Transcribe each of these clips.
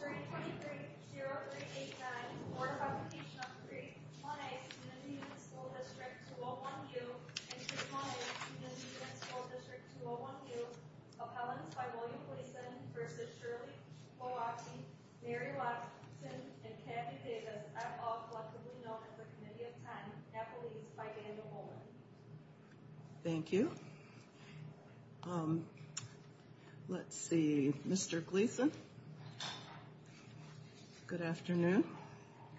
323-0389 Board of Education of Crete-Monee Community Unit School District 201-U and Crete-Monee Community Unit School District 201-U Appellants by William Gleason v. Shirley Glowacki, Mary Watson, and Kathy Davis are all collectively known as the Committee of 10, appellees by band of women. Good afternoon.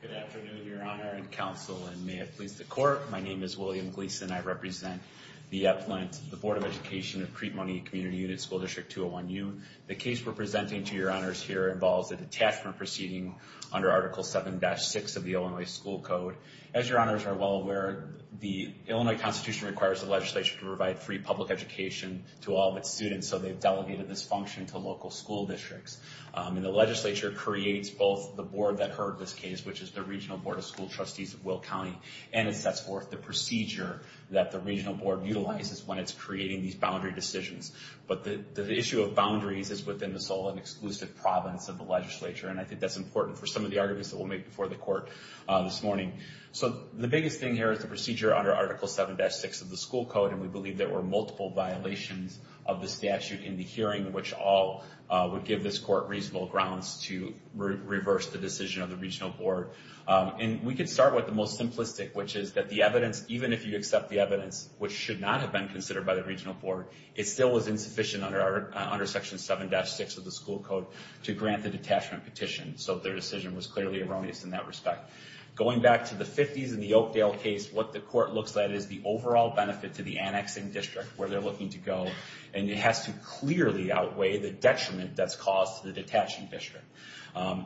Good afternoon, Your Honor and Counsel, and may it please the Court, my name is William Gleason. I represent the Appellant, the Board of Education of Crete-Monee Community Unit School District 201-U. The case we're presenting to Your Honors here involves a detachment proceeding under Article 7-6 of the Illinois School Code. As Your Honors are well aware, the Illinois Constitution requires the legislature to provide free public education to all of its students, and so they've delegated this function to local school districts. And the legislature creates both the board that heard this case, which is the Regional Board of School Trustees of Will County, and it sets forth the procedure that the regional board utilizes when it's creating these boundary decisions. But the issue of boundaries is within the sole and exclusive province of the legislature, and I think that's important for some of the arguments that we'll make before the Court this morning. So the biggest thing here is the procedure under Article 7-6 of the school code, and we believe there were multiple violations of the statute in the hearing, which all would give this court reasonable grounds to reverse the decision of the regional board. And we can start with the most simplistic, which is that the evidence, even if you accept the evidence, which should not have been considered by the regional board, it still was insufficient under Section 7-6 of the school code to grant the detachment petition, so their decision was clearly erroneous in that respect. Going back to the 50s in the Oakdale case, what the court looks at is the overall benefit to the annexing district, where they're looking to go, and it has to clearly outweigh the detriment that's caused to the detaching district.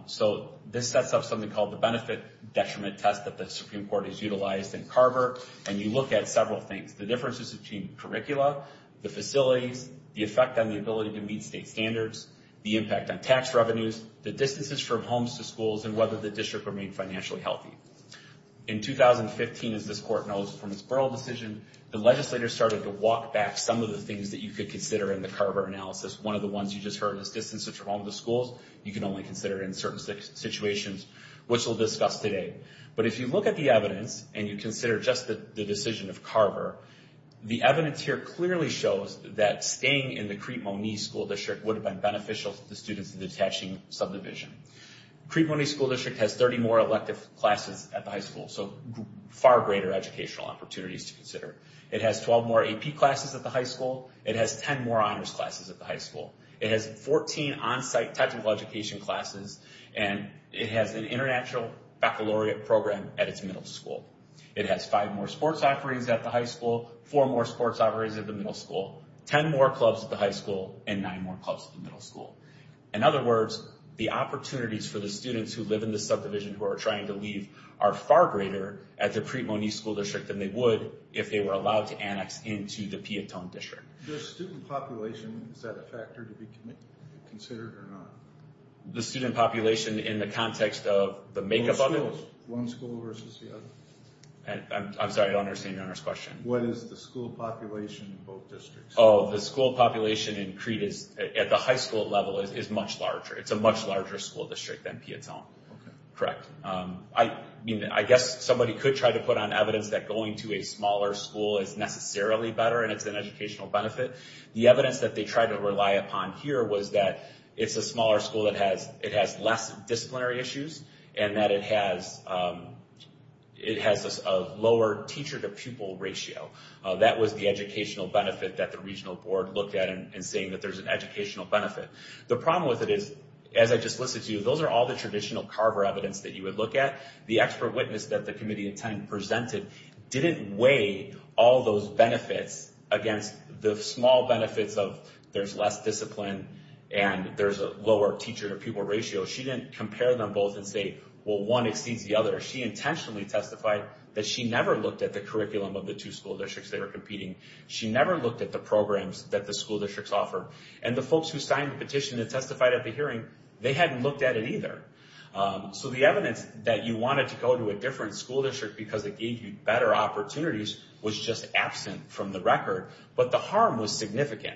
So this sets up something called the benefit detriment test that the Supreme Court has utilized in Carver, and you look at several things, the differences between curricula, the facilities, the effect on the ability to meet state standards, the impact on tax revenues, the distances from homes to schools, and whether the district remained financially healthy. In 2015, as this court knows from its Berle decision, the legislators started to walk back some of the things that you could consider in the Carver analysis. One of the ones you just heard was distances from homes to schools. You can only consider it in certain situations, which we'll discuss today. But if you look at the evidence and you consider just the decision of Carver, the evidence here clearly shows that staying in the Crete-Moniz school district would have been beneficial to the students in the detaching subdivision. Crete-Moniz school district has 30 more elective classes at the high school, so far greater educational opportunities to consider. It has 12 more AP classes at the high school. It has 10 more honors classes at the high school. It has 14 onsite technical education classes, and it has an international baccalaureate program at its middle school. It has five more sports offerings at the high school, four more sports offerings at the middle school, 10 more clubs at the high school, and nine more clubs at the middle school. In other words, the opportunities for the students who live in the subdivision who are trying to leave are far greater at the Crete-Moniz school district than they would if they were allowed to annex into the Piatone district. The student population, is that a factor to be considered or not? The student population in the context of the makeup of it? One school versus the other. I'm sorry, I don't understand your honest question. What is the school population in both districts? The school population in Crete at the high school level is much larger. It's a much larger school district than Piatone. Correct. I guess somebody could try to put on evidence that going to a smaller school is necessarily better and it's an educational benefit. The evidence that they tried to rely upon here was that it's a smaller school that has less disciplinary issues and that it has a lower teacher-to-pupil ratio. That was the educational benefit that the regional board looked at in saying that there's an educational benefit. The problem with it is, as I just listed to you, those are all the traditional CARVER evidence that you would look at. The expert witness that the committee presented didn't weigh all those benefits against the small benefits of there's less discipline and there's a lower teacher-to-pupil ratio. She didn't compare them both and say, well, one exceeds the other. She intentionally testified that she never looked at the curriculum of the two school districts that are competing. She never looked at the programs that the school districts offer. And the folks who signed the petition that testified at the hearing, they hadn't looked at it either. So the evidence that you wanted to go to a different school district because it gave you better opportunities was just absent from the record. But the harm was significant.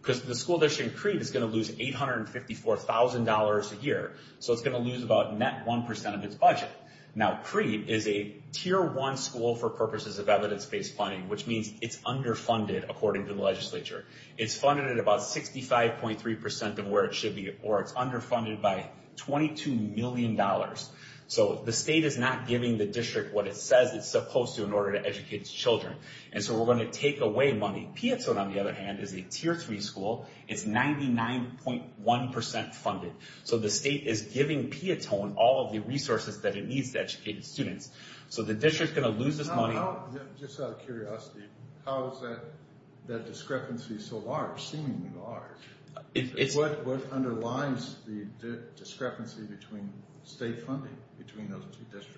Because the school district in Creed is going to lose $854,000 a year. So it's going to lose about net 1% of its budget. Now, Creed is a Tier 1 school for purposes of evidence-based funding, which means it's underfunded, according to the legislature. It's funded at about 65.3% of where it should be, or it's underfunded by $22 million. So the state is not giving the district what it says it's supposed to in order to educate its children. And so we're going to take away money. Piatone, on the other hand, is a Tier 3 school. It's 99.1% funded. So the state is giving Piatone all of the resources that it needs to educate its students. So the district is going to lose this money. Just out of curiosity, how is that discrepancy so large, seemingly large? What underlines the discrepancy between state funding between those two districts?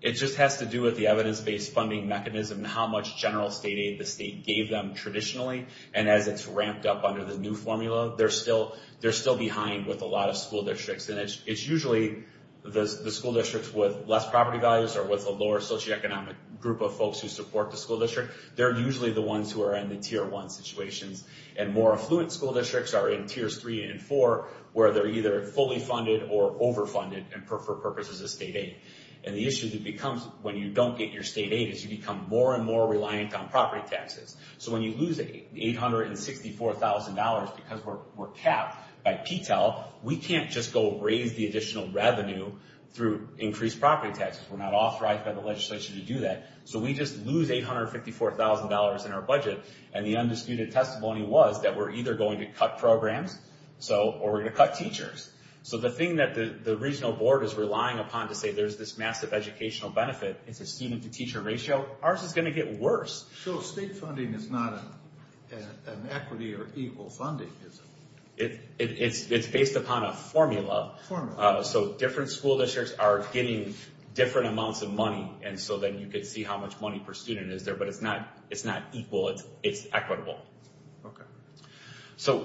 It just has to do with the evidence-based funding mechanism and how much general state aid the state gave them traditionally. And as it's ramped up under the new formula, they're still behind with a lot of school districts. And it's usually the school districts with less property values or with a lower socioeconomic group of folks who support the school district, they're usually the ones who are in the Tier 1 situations. And more affluent school districts are in Tiers 3 and 4, where they're either fully funded or overfunded for purposes of state aid. And the issue that becomes when you don't get your state aid is you become more and more reliant on property taxes. So when you lose $864,000 because we're capped by PTEL, we can't just go raise the additional revenue through increased property taxes. We're not authorized by the legislation to do that. So we just lose $854,000 in our budget. And the undisputed testimony was that we're either going to cut programs or we're going to cut teachers. So the thing that the regional board is relying upon to say there's this massive educational benefit, it's a student-to-teacher ratio, ours is going to get worse. So state funding is not an equity or equal funding, is it? It's based upon a formula. So different school districts are getting different amounts of money, and so then you can see how much money per student is there. But it's not equal, it's equitable. Okay. So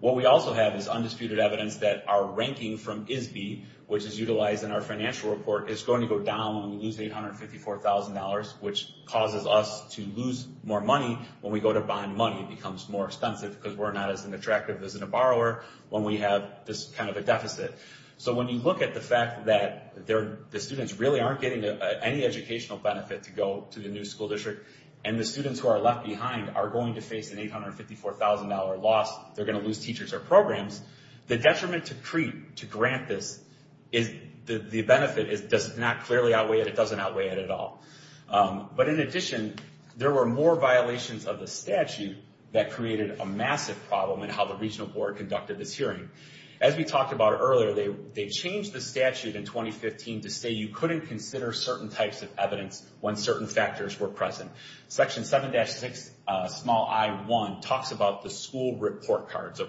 what we also have is undisputed evidence that our ranking from ISBE, which is utilized in our financial report, is going to go down when we lose $854,000, which causes us to lose more money when we go to bond money. It becomes more expensive because we're not as attractive as a borrower when we have this kind of a deficit. So when you look at the fact that the students really aren't getting any educational benefit to go to the new school district, and the students who are left behind are going to face an $854,000 loss, they're going to lose teachers or programs, the detriment to CREEP to grant this, the benefit, does not clearly outweigh it, it doesn't outweigh it at all. But in addition, there were more violations of the statute that created a massive problem in how the regional board conducted this hearing. As we talked about earlier, they changed the statute in 2015 to say you couldn't consider certain types of evidence when certain factors were present. Section 7-6 small I-1 talks about the school report cards.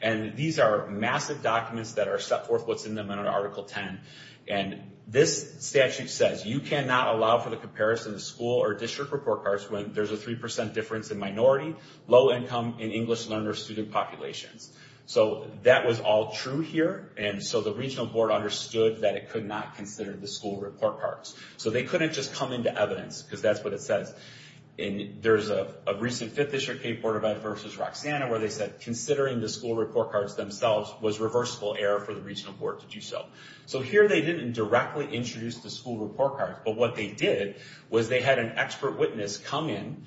And these are massive documents that are set forth what's in them under Article 10. And this statute says you cannot allow for the comparison of school or district report cards when there's a 3% difference in minority, low income, and English learner student populations. So that was all true here, and so the regional board understood that it could not consider the school report cards. So they couldn't just come into evidence, because that's what it says. And there's a recent 5th District K-4 event versus Roxanna where they said considering the school report cards themselves was reversible error for the regional board to do so. So here they didn't directly introduce the school report cards, but what they did was they had an expert witness come in,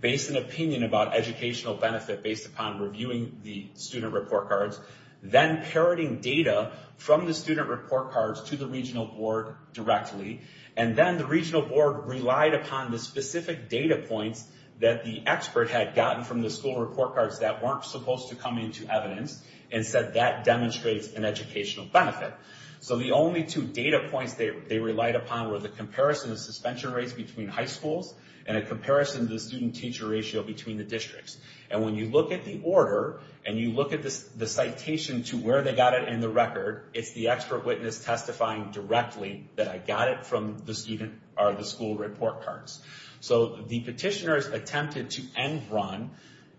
base an opinion about educational benefit based upon reviewing the student report cards, then parroting data from the student report cards to the regional board directly. And then the regional board relied upon the specific data points that the expert had gotten from the school report cards that weren't supposed to come into evidence, and said that demonstrates an educational benefit. So the only two data points they relied upon were the comparison of suspension rates between high schools, and a comparison of the student-teacher ratio between the districts. And when you look at the order, and you look at the citation to where they got it in the record, it's the expert witness testifying directly that I got it from the student or the school report cards. So the petitioners attempted to end-run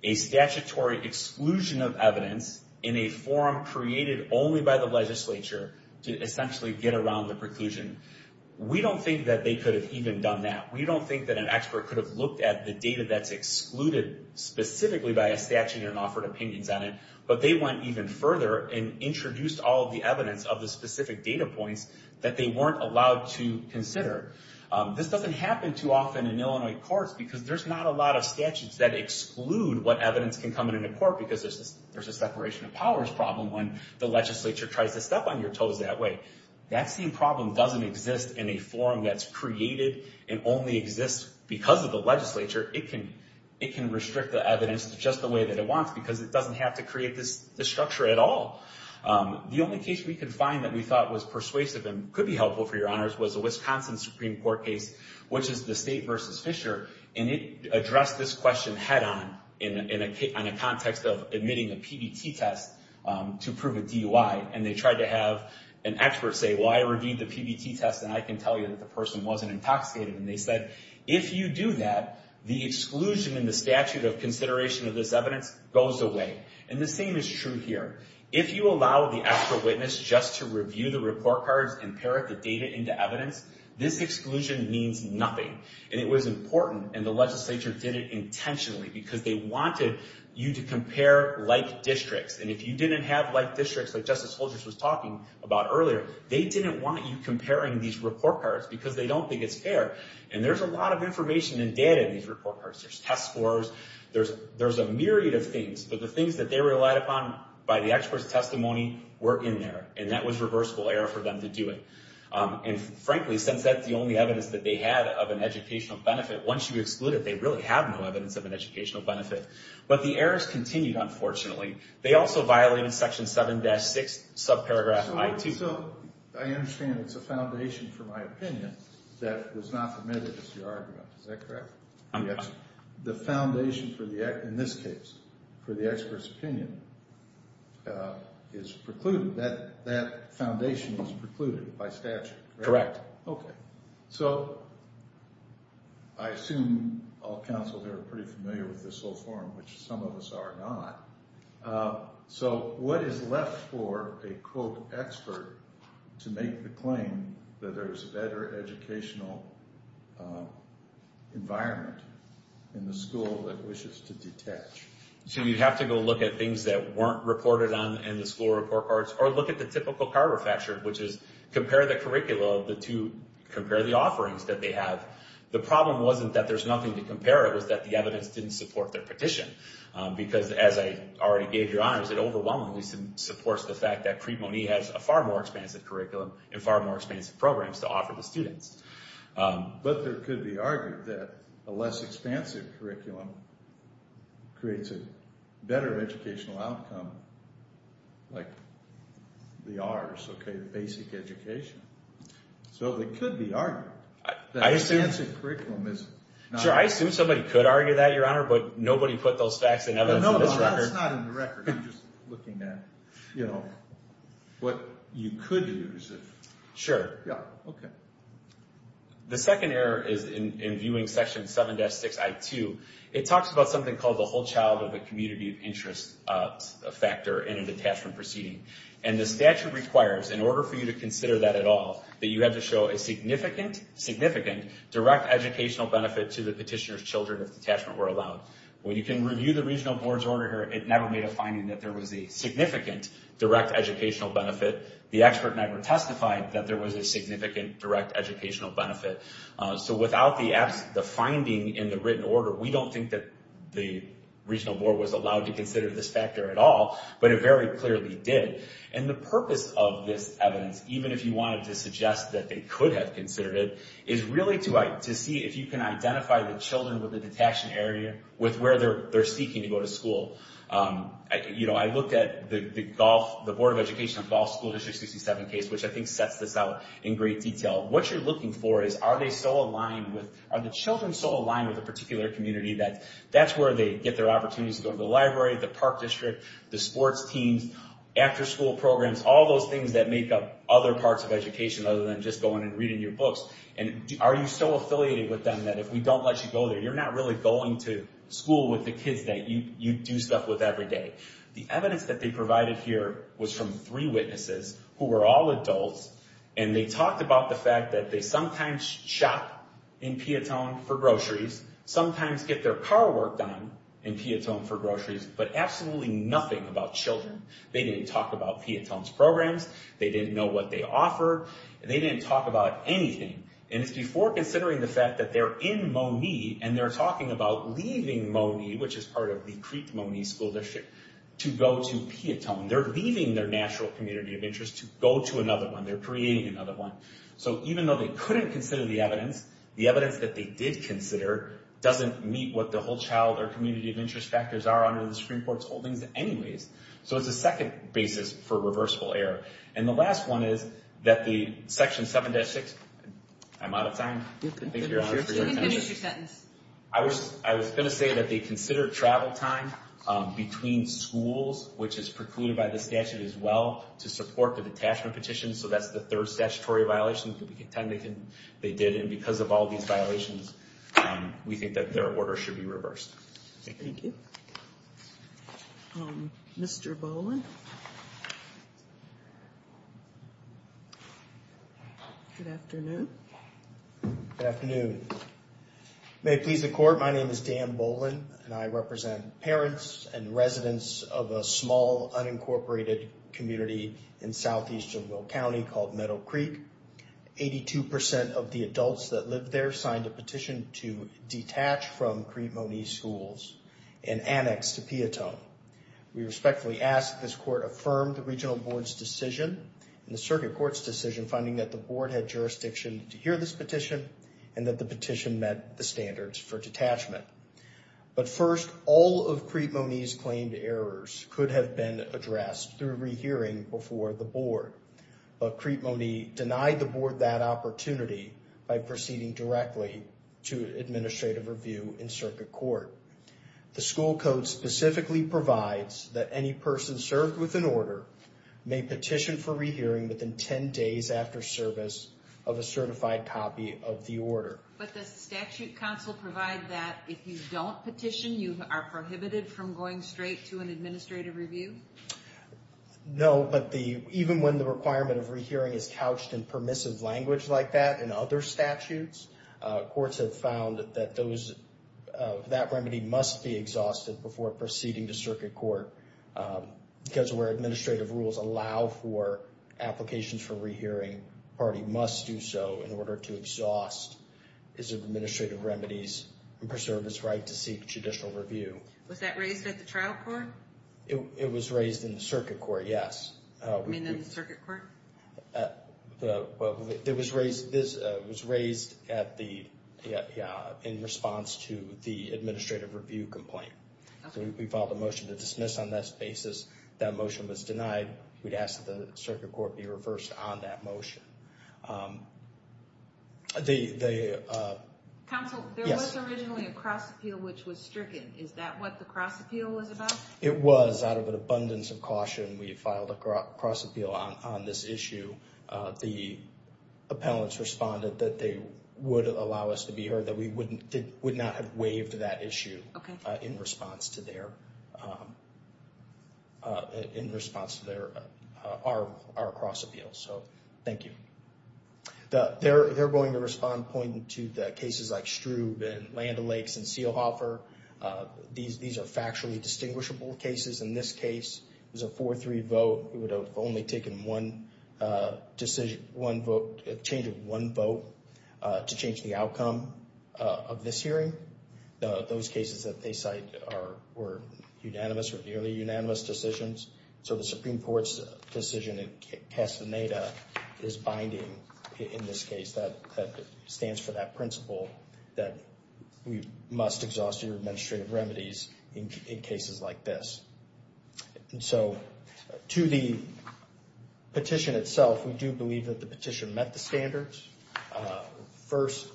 a statutory exclusion of evidence in a forum created only by the legislature to essentially get around the preclusion. We don't think that they could have even done that. We don't think that an expert could have looked at the data that's excluded specifically by a statute and questioned it and offered opinions on it, but they went even further and introduced all of the evidence of the specific data points that they weren't allowed to consider. This doesn't happen too often in Illinois courts because there's not a lot of statutes that exclude what evidence can come into court because there's a separation of powers problem when the legislature tries to step on your toes that way. That same problem doesn't exist in a forum that's created and only exists because of the legislature. It can restrict the evidence just the way that it wants because it doesn't have to create this structure at all. The only case we could find that we thought was persuasive and could be helpful for your honors was the Wisconsin Supreme Court case, which is the state versus Fisher, and it addressed this question head-on in a context of admitting a PBT test to prove a DUI, and they tried to have an expert say, well, I reviewed the PBT test and I can tell you that the person wasn't intoxicated, and they said, if you do that, the exclusion in the statute of consideration of this evidence goes away, and the same is true here. If you allow the expert witness just to review the report cards and parrot the data into evidence, this exclusion means nothing, and it was important, and the legislature did it intentionally because they wanted you to compare like districts, and if you didn't have like districts like Justice Holgers was talking about earlier, they didn't want you comparing these report cards because they don't think it's fair, and there's a lot of information and data in these report cards, there's test scores, there's a myriad of things, but the things that they relied upon by the expert's testimony were in there, and that was reversible error for them to do it, and frankly, since that's the only evidence that they had of an educational benefit, once you exclude it, they really have no evidence of an educational benefit, but the errors continued, unfortunately. They also violated section 7-6, subparagraph I-2. So I understand it's a foundation for my opinion that was not permitted as your argument, is that correct? Yes. The foundation for the, in this case, for the expert's opinion is precluded, that foundation is precluded by statute, correct? Correct. So I assume all counsel here are pretty familiar with this whole question of why not. So what is left for a, quote, expert to make the claim that there's a better educational environment in the school that wishes to detach? So you'd have to go look at things that weren't reported on in the school report cards, or look at the typical car refactored, which is compare the curricula of the two, compare the offerings that they have. The problem wasn't that there's nothing to compare it with, it's just that the evidence didn't support their petition, because as I already gave your honors, it overwhelmingly supports the fact that Crete-Monet has a far more expansive curriculum and far more expansive programs to offer the students. But there could be argument that a less expansive curriculum creates a better educational outcome, like the ours, okay, the basic education. So there could be argument that the expansive curriculum is not... Sure, I assume somebody could argue that, your honor, but nobody put those facts and evidence in this record. No, it's not in the record, I'm just looking at, you know, what you could use. Sure. The second error is in viewing section 7-6-I-2. It talks about something called the whole child of a community of interest factor in a detachment proceeding, and the statute requires, in order for you to make a significant direct educational benefit to the petitioner's children if detachment were allowed. When you can review the regional board's order here, it never made a finding that there was a significant direct educational benefit. The expert never testified that there was a significant direct educational benefit. So without the finding in the written order, we don't think that the regional board was allowed to consider this factor at all, but it very clearly did. And the purpose of this evidence, even if you wanted to suggest that they could have considered it, is really to see if you can identify the children with the detachment area with where they're seeking to go to school. You know, I looked at the Board of Education of Gulf School District 67 case, which I think sets this out in great detail. What you're looking for is, are the children so aligned with a particular community that that's where they get their opportunities to go to the library, the park district, the sports teams, after school programs, all those things that make up other parts of education other than just going and reading your books, and are you so affiliated with them that if we don't let you go there, you're not really going to school with the kids that you do stuff with every day. The evidence that they provided here was from three witnesses who were all adults, and they talked about the fact that they sometimes shop in Piatone for groceries, sometimes get their car work done in Piatone for groceries, but absolutely nothing about children. They didn't talk about Piatone's programs, they didn't know what they offer, they didn't talk about anything, and it's before considering the fact that they're in Monee, and they're talking about leaving Monee, which is part of the Creek Monee School District, to go to Piatone. They're leaving their natural community of interest to go to another one. So even though they couldn't consider the evidence, the evidence that they did consider doesn't meet what the whole child or community of interest factors are under the Supreme Court's holdings anyways. So it's a second basis for reversible error. And the last one is that the Section 7-6... I'm out of time. I was going to say that they considered travel time between schools, which is precluded by the statute as well, to support the detachment petition, so that's the third statutory violation, and because of all these violations, we think that their order should be reversed. Thank you. Mr. Boland? Good afternoon. Good afternoon. May it please the Court, my name is Dan Boland, and I represent parents and residents of a small, unincorporated community in southeastern Will County called Meadow Creek. 82% of the adults that live there signed a petition to detach from Crete-Moniz schools and annex to Piatone. We respectfully ask that this Court affirm the Regional Board's decision and the Circuit Court's decision finding that the Board had jurisdiction to hear this petition and that the petition met the standards for detachment. But first, all of Crete-Moniz's claimed errors could have been addressed through rehearing before the Board, but Crete-Moniz denied the Board that opportunity by proceeding directly to administrative review in Circuit Court. The school code specifically provides that any person served with an order may petition for rehearing within 10 days after service of a certified copy of the order. But does the statute counsel provide that if you don't petition, you are prohibited from going straight to an administrative review? No, but even when the requirement of rehearing is couched in permissive language like that in other statutes, courts have found that those, that remedy must be exhausted before proceeding to Circuit Court because where administrative rules allow the party must do so in order to exhaust its administrative remedies and preserve its right to seek judicial review. Was that raised at the trial court? It was raised in the Circuit Court, yes. You mean in the Circuit Court? It was raised at the, in response to the administrative review complaint. We filed a motion to dismiss on that basis. That motion was denied. We'd ask that the Circuit Court be reversed on that motion. Counsel, there was originally a cross appeal which was stricken. Is that what the cross appeal was about? It was. Out of an abundance of caution, we filed a cross appeal on this issue. The appellants responded that they would allow us to be heard, that we would not have waived that issue in response to their our cross appeal. So, thank you. They're going to respond pointing to the cases like Stroob and Land O'Lakes and Seelhofer. These are factually distinguishable cases. In this case, it was a 4-3 vote. We would have only taken one decision, one vote, a change of one vote to change the outcome of this hearing. Those cases that they cite were unanimous or nearly unanimous decisions. So, the Supreme Court's decision in Castaneda is binding in this case. That stands for that principle that we must exhaust your administrative remedies in cases like this. To the petition itself, we do believe that the petition met the standards. First,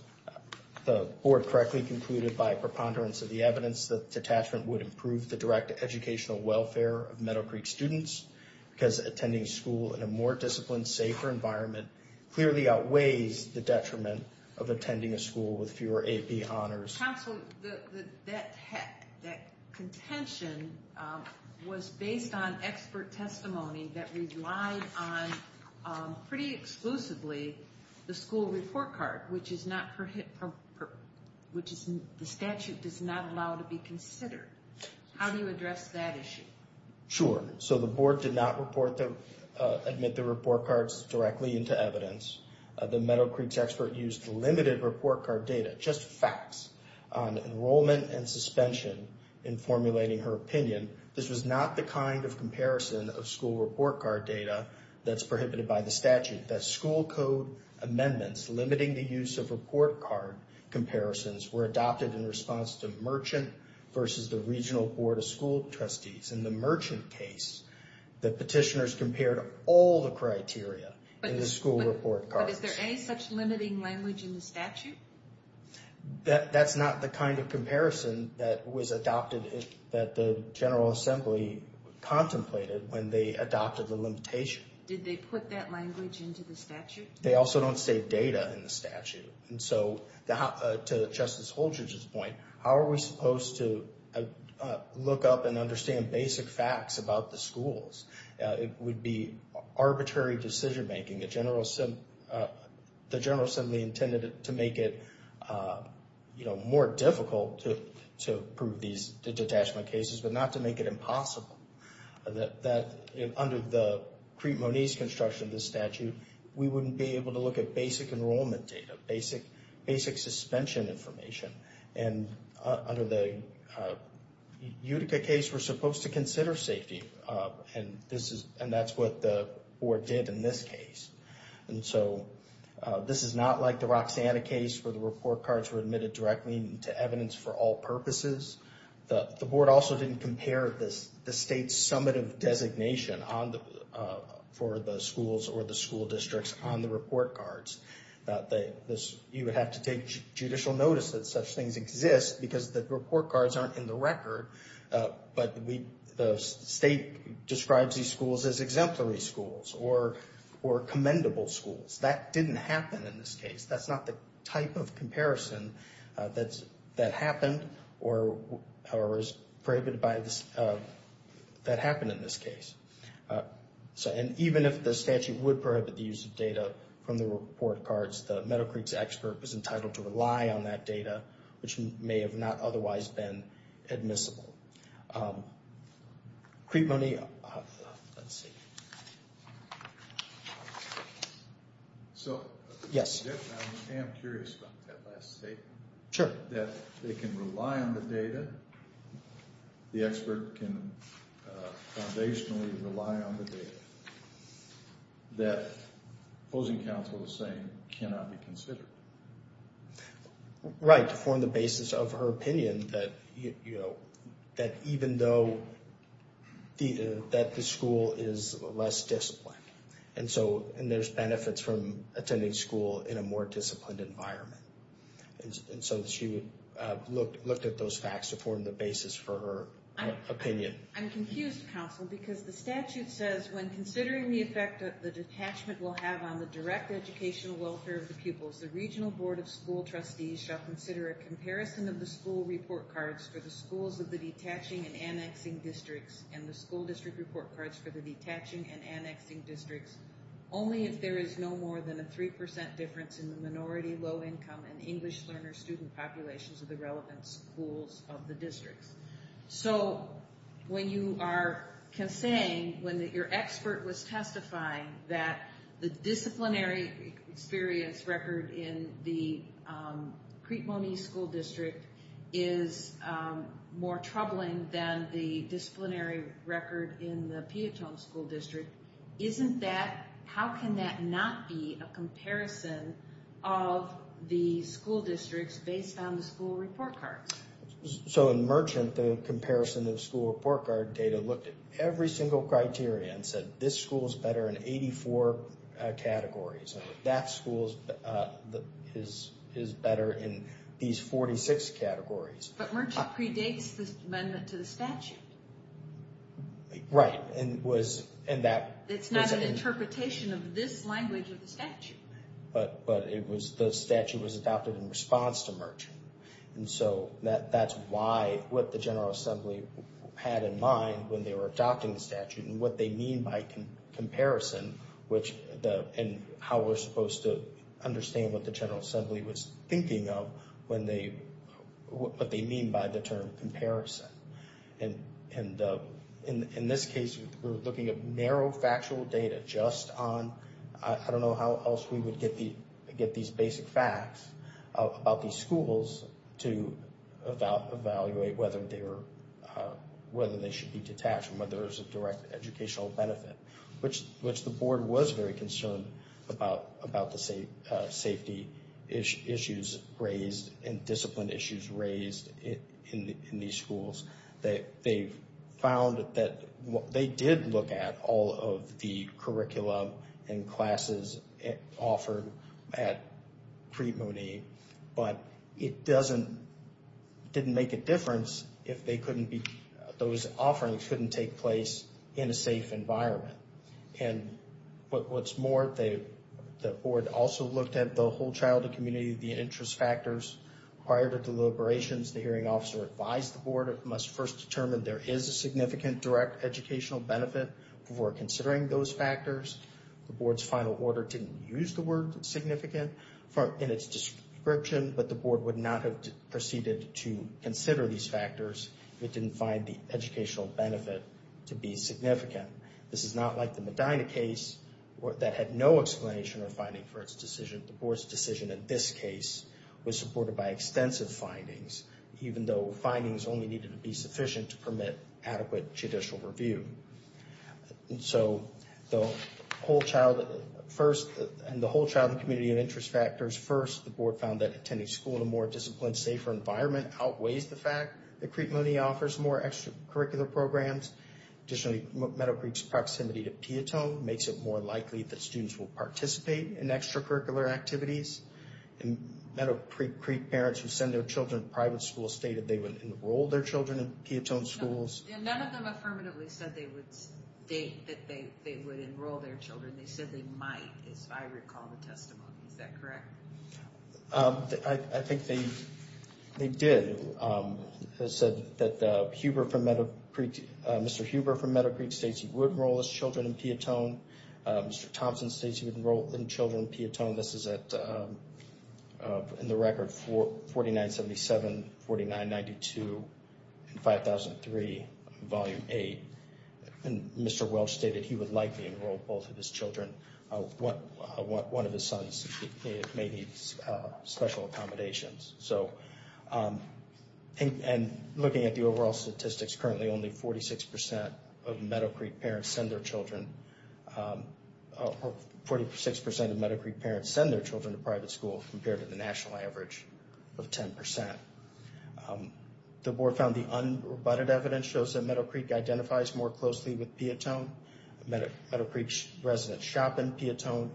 the Board correctly concluded by preponderance of the evidence that detachment would improve the direct educational welfare of Meadow Creek students because attending school in a more disciplined, safer environment clearly outweighs the detriment of attending a school with fewer AP honors. Counsel, that contention was based on expert testimony that relied on pretty exclusively the school report card which is not which the statute does not allow to be considered. How do you address that issue? Sure. So, the Board did not admit the report cards directly into evidence. The Meadow Creek expert used limited report card data, just facts on enrollment and suspension in formulating her opinion. This was not the kind of comparison of school report card data that's prohibited by the statute. The Board did not admit that school code amendments limiting the use of report card comparisons were adopted in response to Merchant versus the Regional Board of School Trustees. In the Merchant case, the petitioners compared all the criteria in the school report cards. But is there any such limiting language in the statute? That's not the kind of comparison that was adopted that the General Assembly contemplated when they adopted the limitation. Did they put that language into the statute? They also don't say data in the statute. And so, to Justice Holdred's point, how are we supposed to look up and understand basic facts about the schools? It would be arbitrary decision making. The General Assembly intended to make it more difficult to prove these detachment cases, but not to make it impossible. Under the Crete-Moniz construction of the statute, we wouldn't be able to look at basic enrollment data, basic suspension information. And under the Utica case, we're supposed to consider safety. And that's what the Board did in this case. And so, this is not like the Roxanna case where the report cards were admitted directly to evidence for all purposes. The Board also didn't compare the state's summative designation for the schools or the school districts on the report cards. You would have to take judicial notice that such things exist because the report cards aren't in the record. But the state describes these schools as exemplary schools or commendable schools. That didn't happen in this case. That's not the type of comparison that happened or was prohibited that happened in this case. And even if the statute would prohibit the use of data from the report cards, the Meadow Creeks expert was entitled to rely on that data, which may have not otherwise been admissible. Crete-Moniz... Let's see. Yes. I am curious about that last statement. Sure. That they can rely on the data, the expert can foundationally rely on the data, that opposing counsel is saying cannot be considered. Right. To form the basis of her opinion that even though the school is less disciplined. And there's benefits from attending school in a more disciplined environment. And so she would look at those facts to form the basis for her opinion. I'm confused, counsel, because the statute says when considering the effect the detachment will have on the direct educational welfare of the pupils, the regional board of school trustees shall consider a comparison of the school report cards for the schools of the detaching and annexing districts and the school district report cards for the detaching and annexing districts only if there is no more than a 3% difference in the minority, low-income, and English learner student populations of the relevant schools of the districts. So when you are saying when your expert was testifying that the disciplinary experience record in the Crete-Moniz school district is more troubling than the disciplinary record in the Piatone school district, isn't that, how can that not be a comparison of the school districts based on the school report cards? So in Merchant, the comparison of school report card data looked at every single criteria and said this school is better in 84 categories and that school is better in these 46 categories. But Merchant predates this amendment to the statute. Right. It's not an interpretation of this language of the statute. But the statute was adopted in response to Merchant. And so that's why what the General Assembly had in mind when they were adopting the statute and what they mean by comparison and how we're supposed to understand what the General Assembly was thinking of what they mean by the term comparison. And in this case, we're looking at narrow factual data just on, I don't know how else we would get these basic facts about these schools to evaluate whether they should be detached and whether there's a direct educational benefit. Which the board was very concerned about the safety issues raised and discipline issues raised in these schools. they did look at all of the curriculum and classes offered at Preet Mooney. But it didn't make a difference if those offerings couldn't take place in a safe environment. And what's more, the board also looked at the whole childhood community and the interest factors. Prior to deliberations, the hearing officer advised the board it must first determine there is a significant direct educational benefit before considering those factors. The board's final order didn't use the word significant in its description, but the board would not have proceeded to consider these factors if it didn't find the educational benefit to be significant. This is not like the Medina case that had no explanation or finding for its decision. The board's decision in this case was supported by extensive findings even though findings only needed to be sufficient to permit adequate judicial review. And so, the whole child first, and the whole childhood community and interest factors first, the board found that attending school in a more disciplined, safer environment outweighs the fact that Preet Mooney offers more extracurricular programs. Additionally, Meadow Creek's proximity to Piatone makes it more likely that students will participate in extracurricular activities. And Meadow Creek parents who send their children to private schools stated they would enroll their children in Piatone schools. And none of them affirmatively said they would state that they would enroll their children. They said they might as I recall the testimony. Is that correct? I think they did. It said that Mr. Huber from Meadow Creek states he would enroll his children in Piatone. Mr. Thompson states he would enroll his children in Piatone. This is at in the record 4977, 4992, and 5003, volume 8. And Mr. Welch stated he would likely enroll both of his children. One of his sons may need special accommodations. And looking at the overall statistics, currently only 46% of Meadow Creek parents send their children to private schools. 46% of Meadow Creek parents send their children to private schools compared to the national average of 10%. The board found the unbuttoned evidence shows that Meadow Creek identifies more closely with Piatone. Meadow Creek residents shop in Piatone.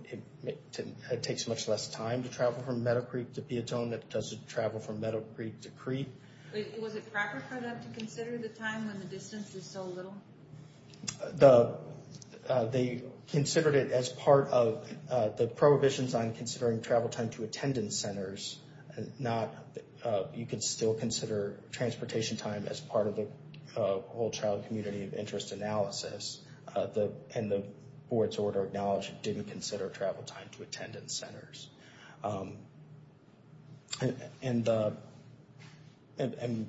It takes much less time to travel from Meadow Creek to Piatone than it does to travel from Meadow Creek to Creek. Was it proper for them to consider the time when the distance was so little? They considered it as part of the prohibitions on considering travel time to attendance centers. You could still consider transportation time as part of the whole child community of interest analysis. And the board's order acknowledged it didn't consider travel time to attendance centers. And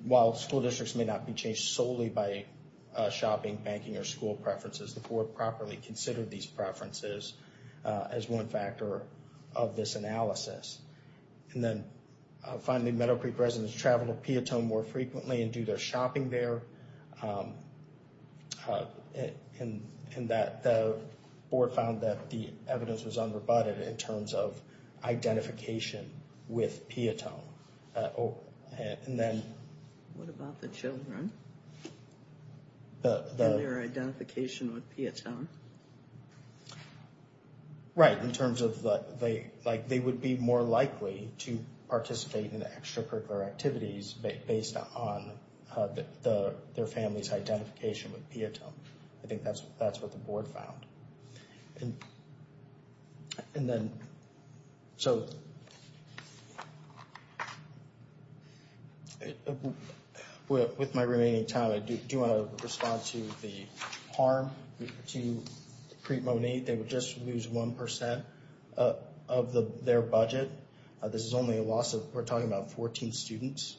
while school districts may not be changed solely by shopping, banking, or school preferences, the board properly considered these preferences as one factor of this analysis. And then finally, Meadow Creek residents travel to Piatone more frequently and do their shopping there. And that the board found that the evidence was unbuttoned in terms of identification with Piatone. And then... What about the children? Their identification with Piatone? Right, in terms of they would be more likely to participate in extracurricular activities based on their family's identification with Piatone. I think that's what the board found. And then so... With my remaining time, I do want to respond to the harm to Creep Monee. They would just lose 1% of their budget. This is only a loss of, we're talking about 14 students.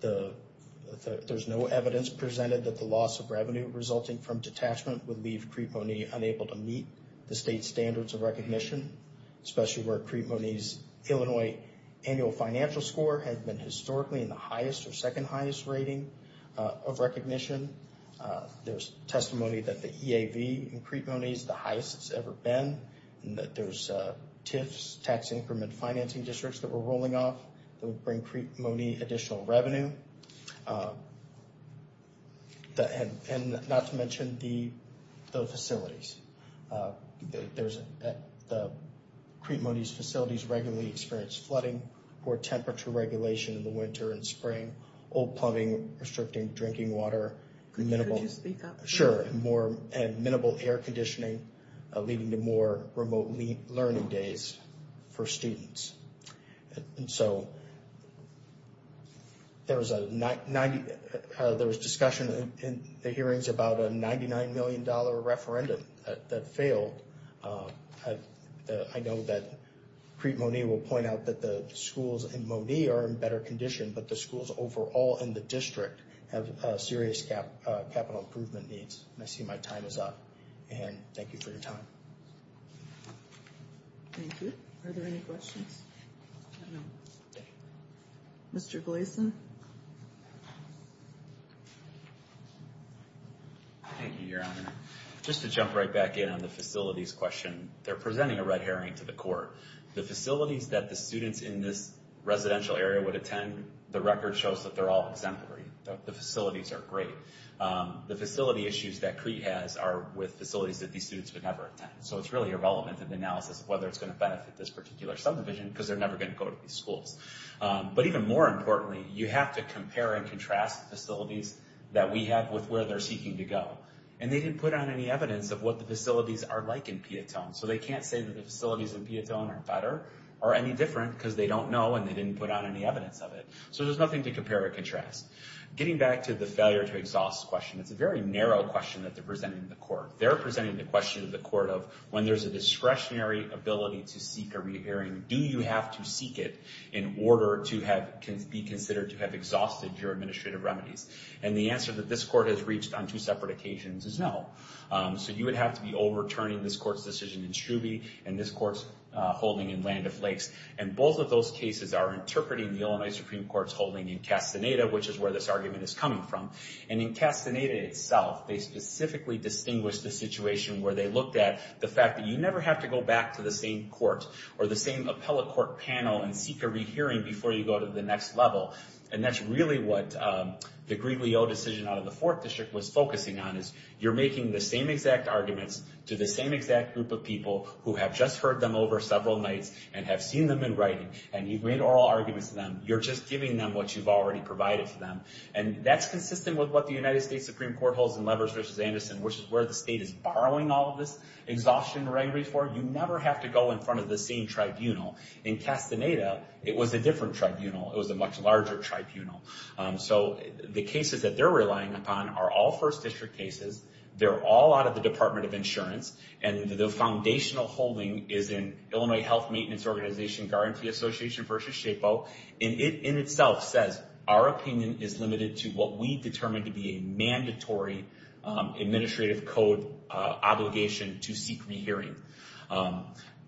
There's no evidence presented that the loss of revenue resulting from detachment would leave Creep Monee unable to meet the state's standards of recognition. Especially where Creep Monee's Illinois annual financial score has been historically in the highest or second highest rating of recognition. There's testimony that the EAV in Creep Monee is the highest it's ever been. There's TIFs, tax increment financing districts that were rolling off that would bring Creep Monee additional revenue. And not to mention the facilities. The Creep Monee's facilities regularly experience flooding or temperature regulation in the winter and spring. Old plumbing, restricting drinking water. Could you speak up? Sure. And minimal air conditioning leading to more remote learning days for students. And so there was discussion in the hearings about a $99 million dollar referendum that failed. I know that Creep Monee will point out that the schools in Monee are in better condition, but the schools overall in the district have serious capital improvement needs. And I see my time is up. And thank you for your time. Thank you. Are there any questions? Mr. Gleason. Thank you, Your Honor. Just to jump right back in on the facilities question. They're presenting a red herring to the court. The facilities that the students in this residential area would attend, the record shows that they're all exemplary. The facilities are great. The facility issues that Crete has are with facilities that these students would never attend. So it's really irrelevant in the analysis of whether it's going to benefit this particular subdivision because they're never going to go to these schools. But even more importantly, you have to compare and contrast the facilities that we have with where they're seeking to go. And they didn't put on any evidence of what the facilities are like in Piatone. So they can't say that the facilities in Piatone are better or any different because they don't know and they didn't put on any evidence of it. So there's nothing to compare or contrast. Getting back to the failure to exhaust question, it's a very narrow question that they're presenting to the court. They're presenting the question to the court of when there's a discretionary ability to seek a red herring, do you have to seek it in order to be considered to have exhausted your discretion in Truby and this court's holding in Land of Lakes. And both of those cases are interpreting the Illinois Supreme Court's holding in Castaneda, which is where this argument is coming from. And in Castaneda itself, they specifically distinguish the situation where they looked at the fact that you never have to go back to the same court or the same appellate court panel and seek a red herring before you go to the next level. And that's really what the Griglio decision out of the 4th District was focusing on, is you're making the same exact arguments to the same exact group of people who have just heard them over several nights and have seen them in writing and you've made oral arguments to them, you're just giving them what you've already provided to them. And that's consistent with what the United States Supreme Court holds in Levers v. Anderson, which is where the state is borrowing all of this exhaustion red herring for. You never have to go in front of the same tribunal. In Castaneda, it was a different tribunal. It was a much larger tribunal. So the cases that they're relying upon are all 1st District cases. They're all out of the Department of Insurance. And the foundational holding is in Illinois Health Maintenance Organization Guarantee Association v. SHAPO. And it in itself says our opinion is limited to what we determine to be a mandatory administrative code obligation to seek rehearing.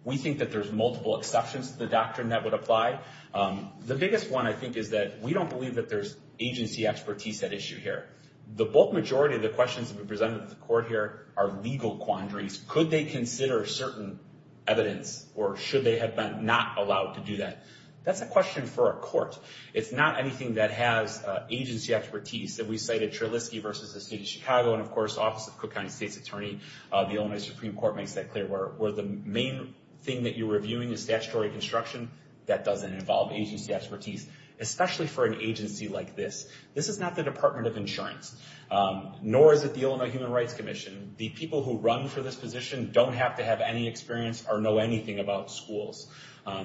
We think that there's multiple exceptions to the doctrine that would apply. The biggest one, I think, is that we don't believe that there's agency expertise at issue here. The bulk majority of the questions that we present at the court here are legal quandaries. Could they consider certain evidence or should they have been not allowed to do that? That's a question for a court. It's not anything that has agency expertise that we cited Trilisky v. the State of Chicago and, of course, the Office of Cook County State's Attorney. The Illinois Supreme Court makes that clear. Where the main thing that you're reviewing is statutory construction, that doesn't involve agency expertise, especially for an agency like this. This is not the Department of Insurance, nor is it the Illinois Human Rights Commission. The people who run for this position don't have to have any experience or know anything about schools.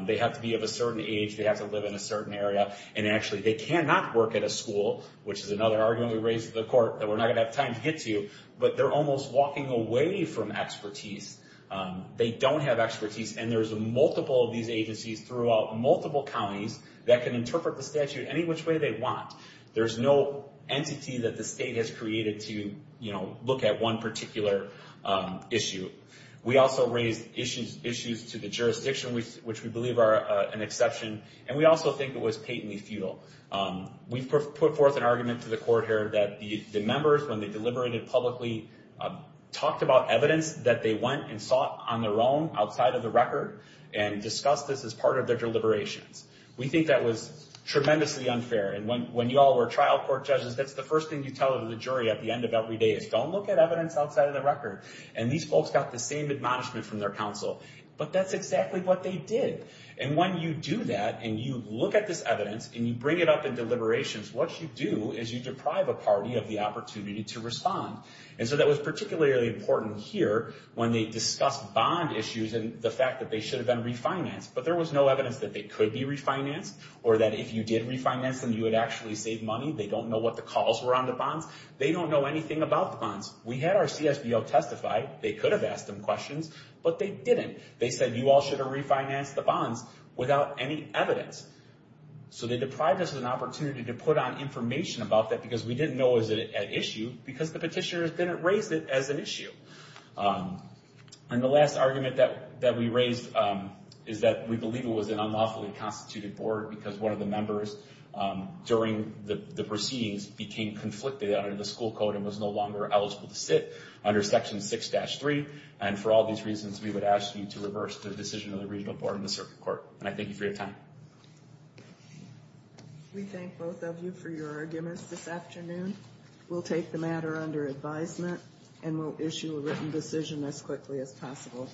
They have to be of a certain age. They have to live in a certain area. Actually, they cannot work at a school, which is another argument we raised at the court that we're not going to have time to get to, but they're almost walking away from expertise. They don't have expertise, and there's multiple of these agencies throughout multiple counties that can interpret the statute any which way they want. There's no entity that the state has created to look at one particular issue. We also raised issues to the jurisdiction, which we believe are an exception, and we also think it was patently futile. We've put forth an argument to the court here that the members, when they deliberated publicly, talked about evidence that they went and sought on their own, outside of the record, and discussed this as part of their deliberations. We think that was tremendously unfair, and when you all were trial court judges, that's the first thing you tell the jury at the end of every day is, don't look at evidence outside of the record, and these folks got the same admonishment from their counsel, but that's exactly what they did, and when you do that and you look at this evidence and you bring it up in deliberations, what you do is you deprive a party of the opportunity to respond, and so that was particularly important here when they discussed bond issues and the fact that they could be refinanced, or that if you did refinance them, you would actually save money, they don't know what the calls were on the bonds, they don't know anything about the bonds. We had our CSBO testify, they could have asked them questions, but they didn't, they said you all should have refinanced the bonds without any evidence, so they deprived us of an opportunity to put on information about that because we didn't know was it an issue, because the petitioners didn't raise it as an issue, and the last argument that we raised is that we believe it was an unlawfully constituted board because one of the members during the proceedings became conflicted under the school code and was no longer eligible to sit under section 6-3, and for all these reasons, we would ask you to reverse the decision of the regional board and the circuit court, and I thank you for your time. We thank both of you for your arguments this afternoon. We'll take the matter under advisement, and we'll issue a written decision as quickly as possible.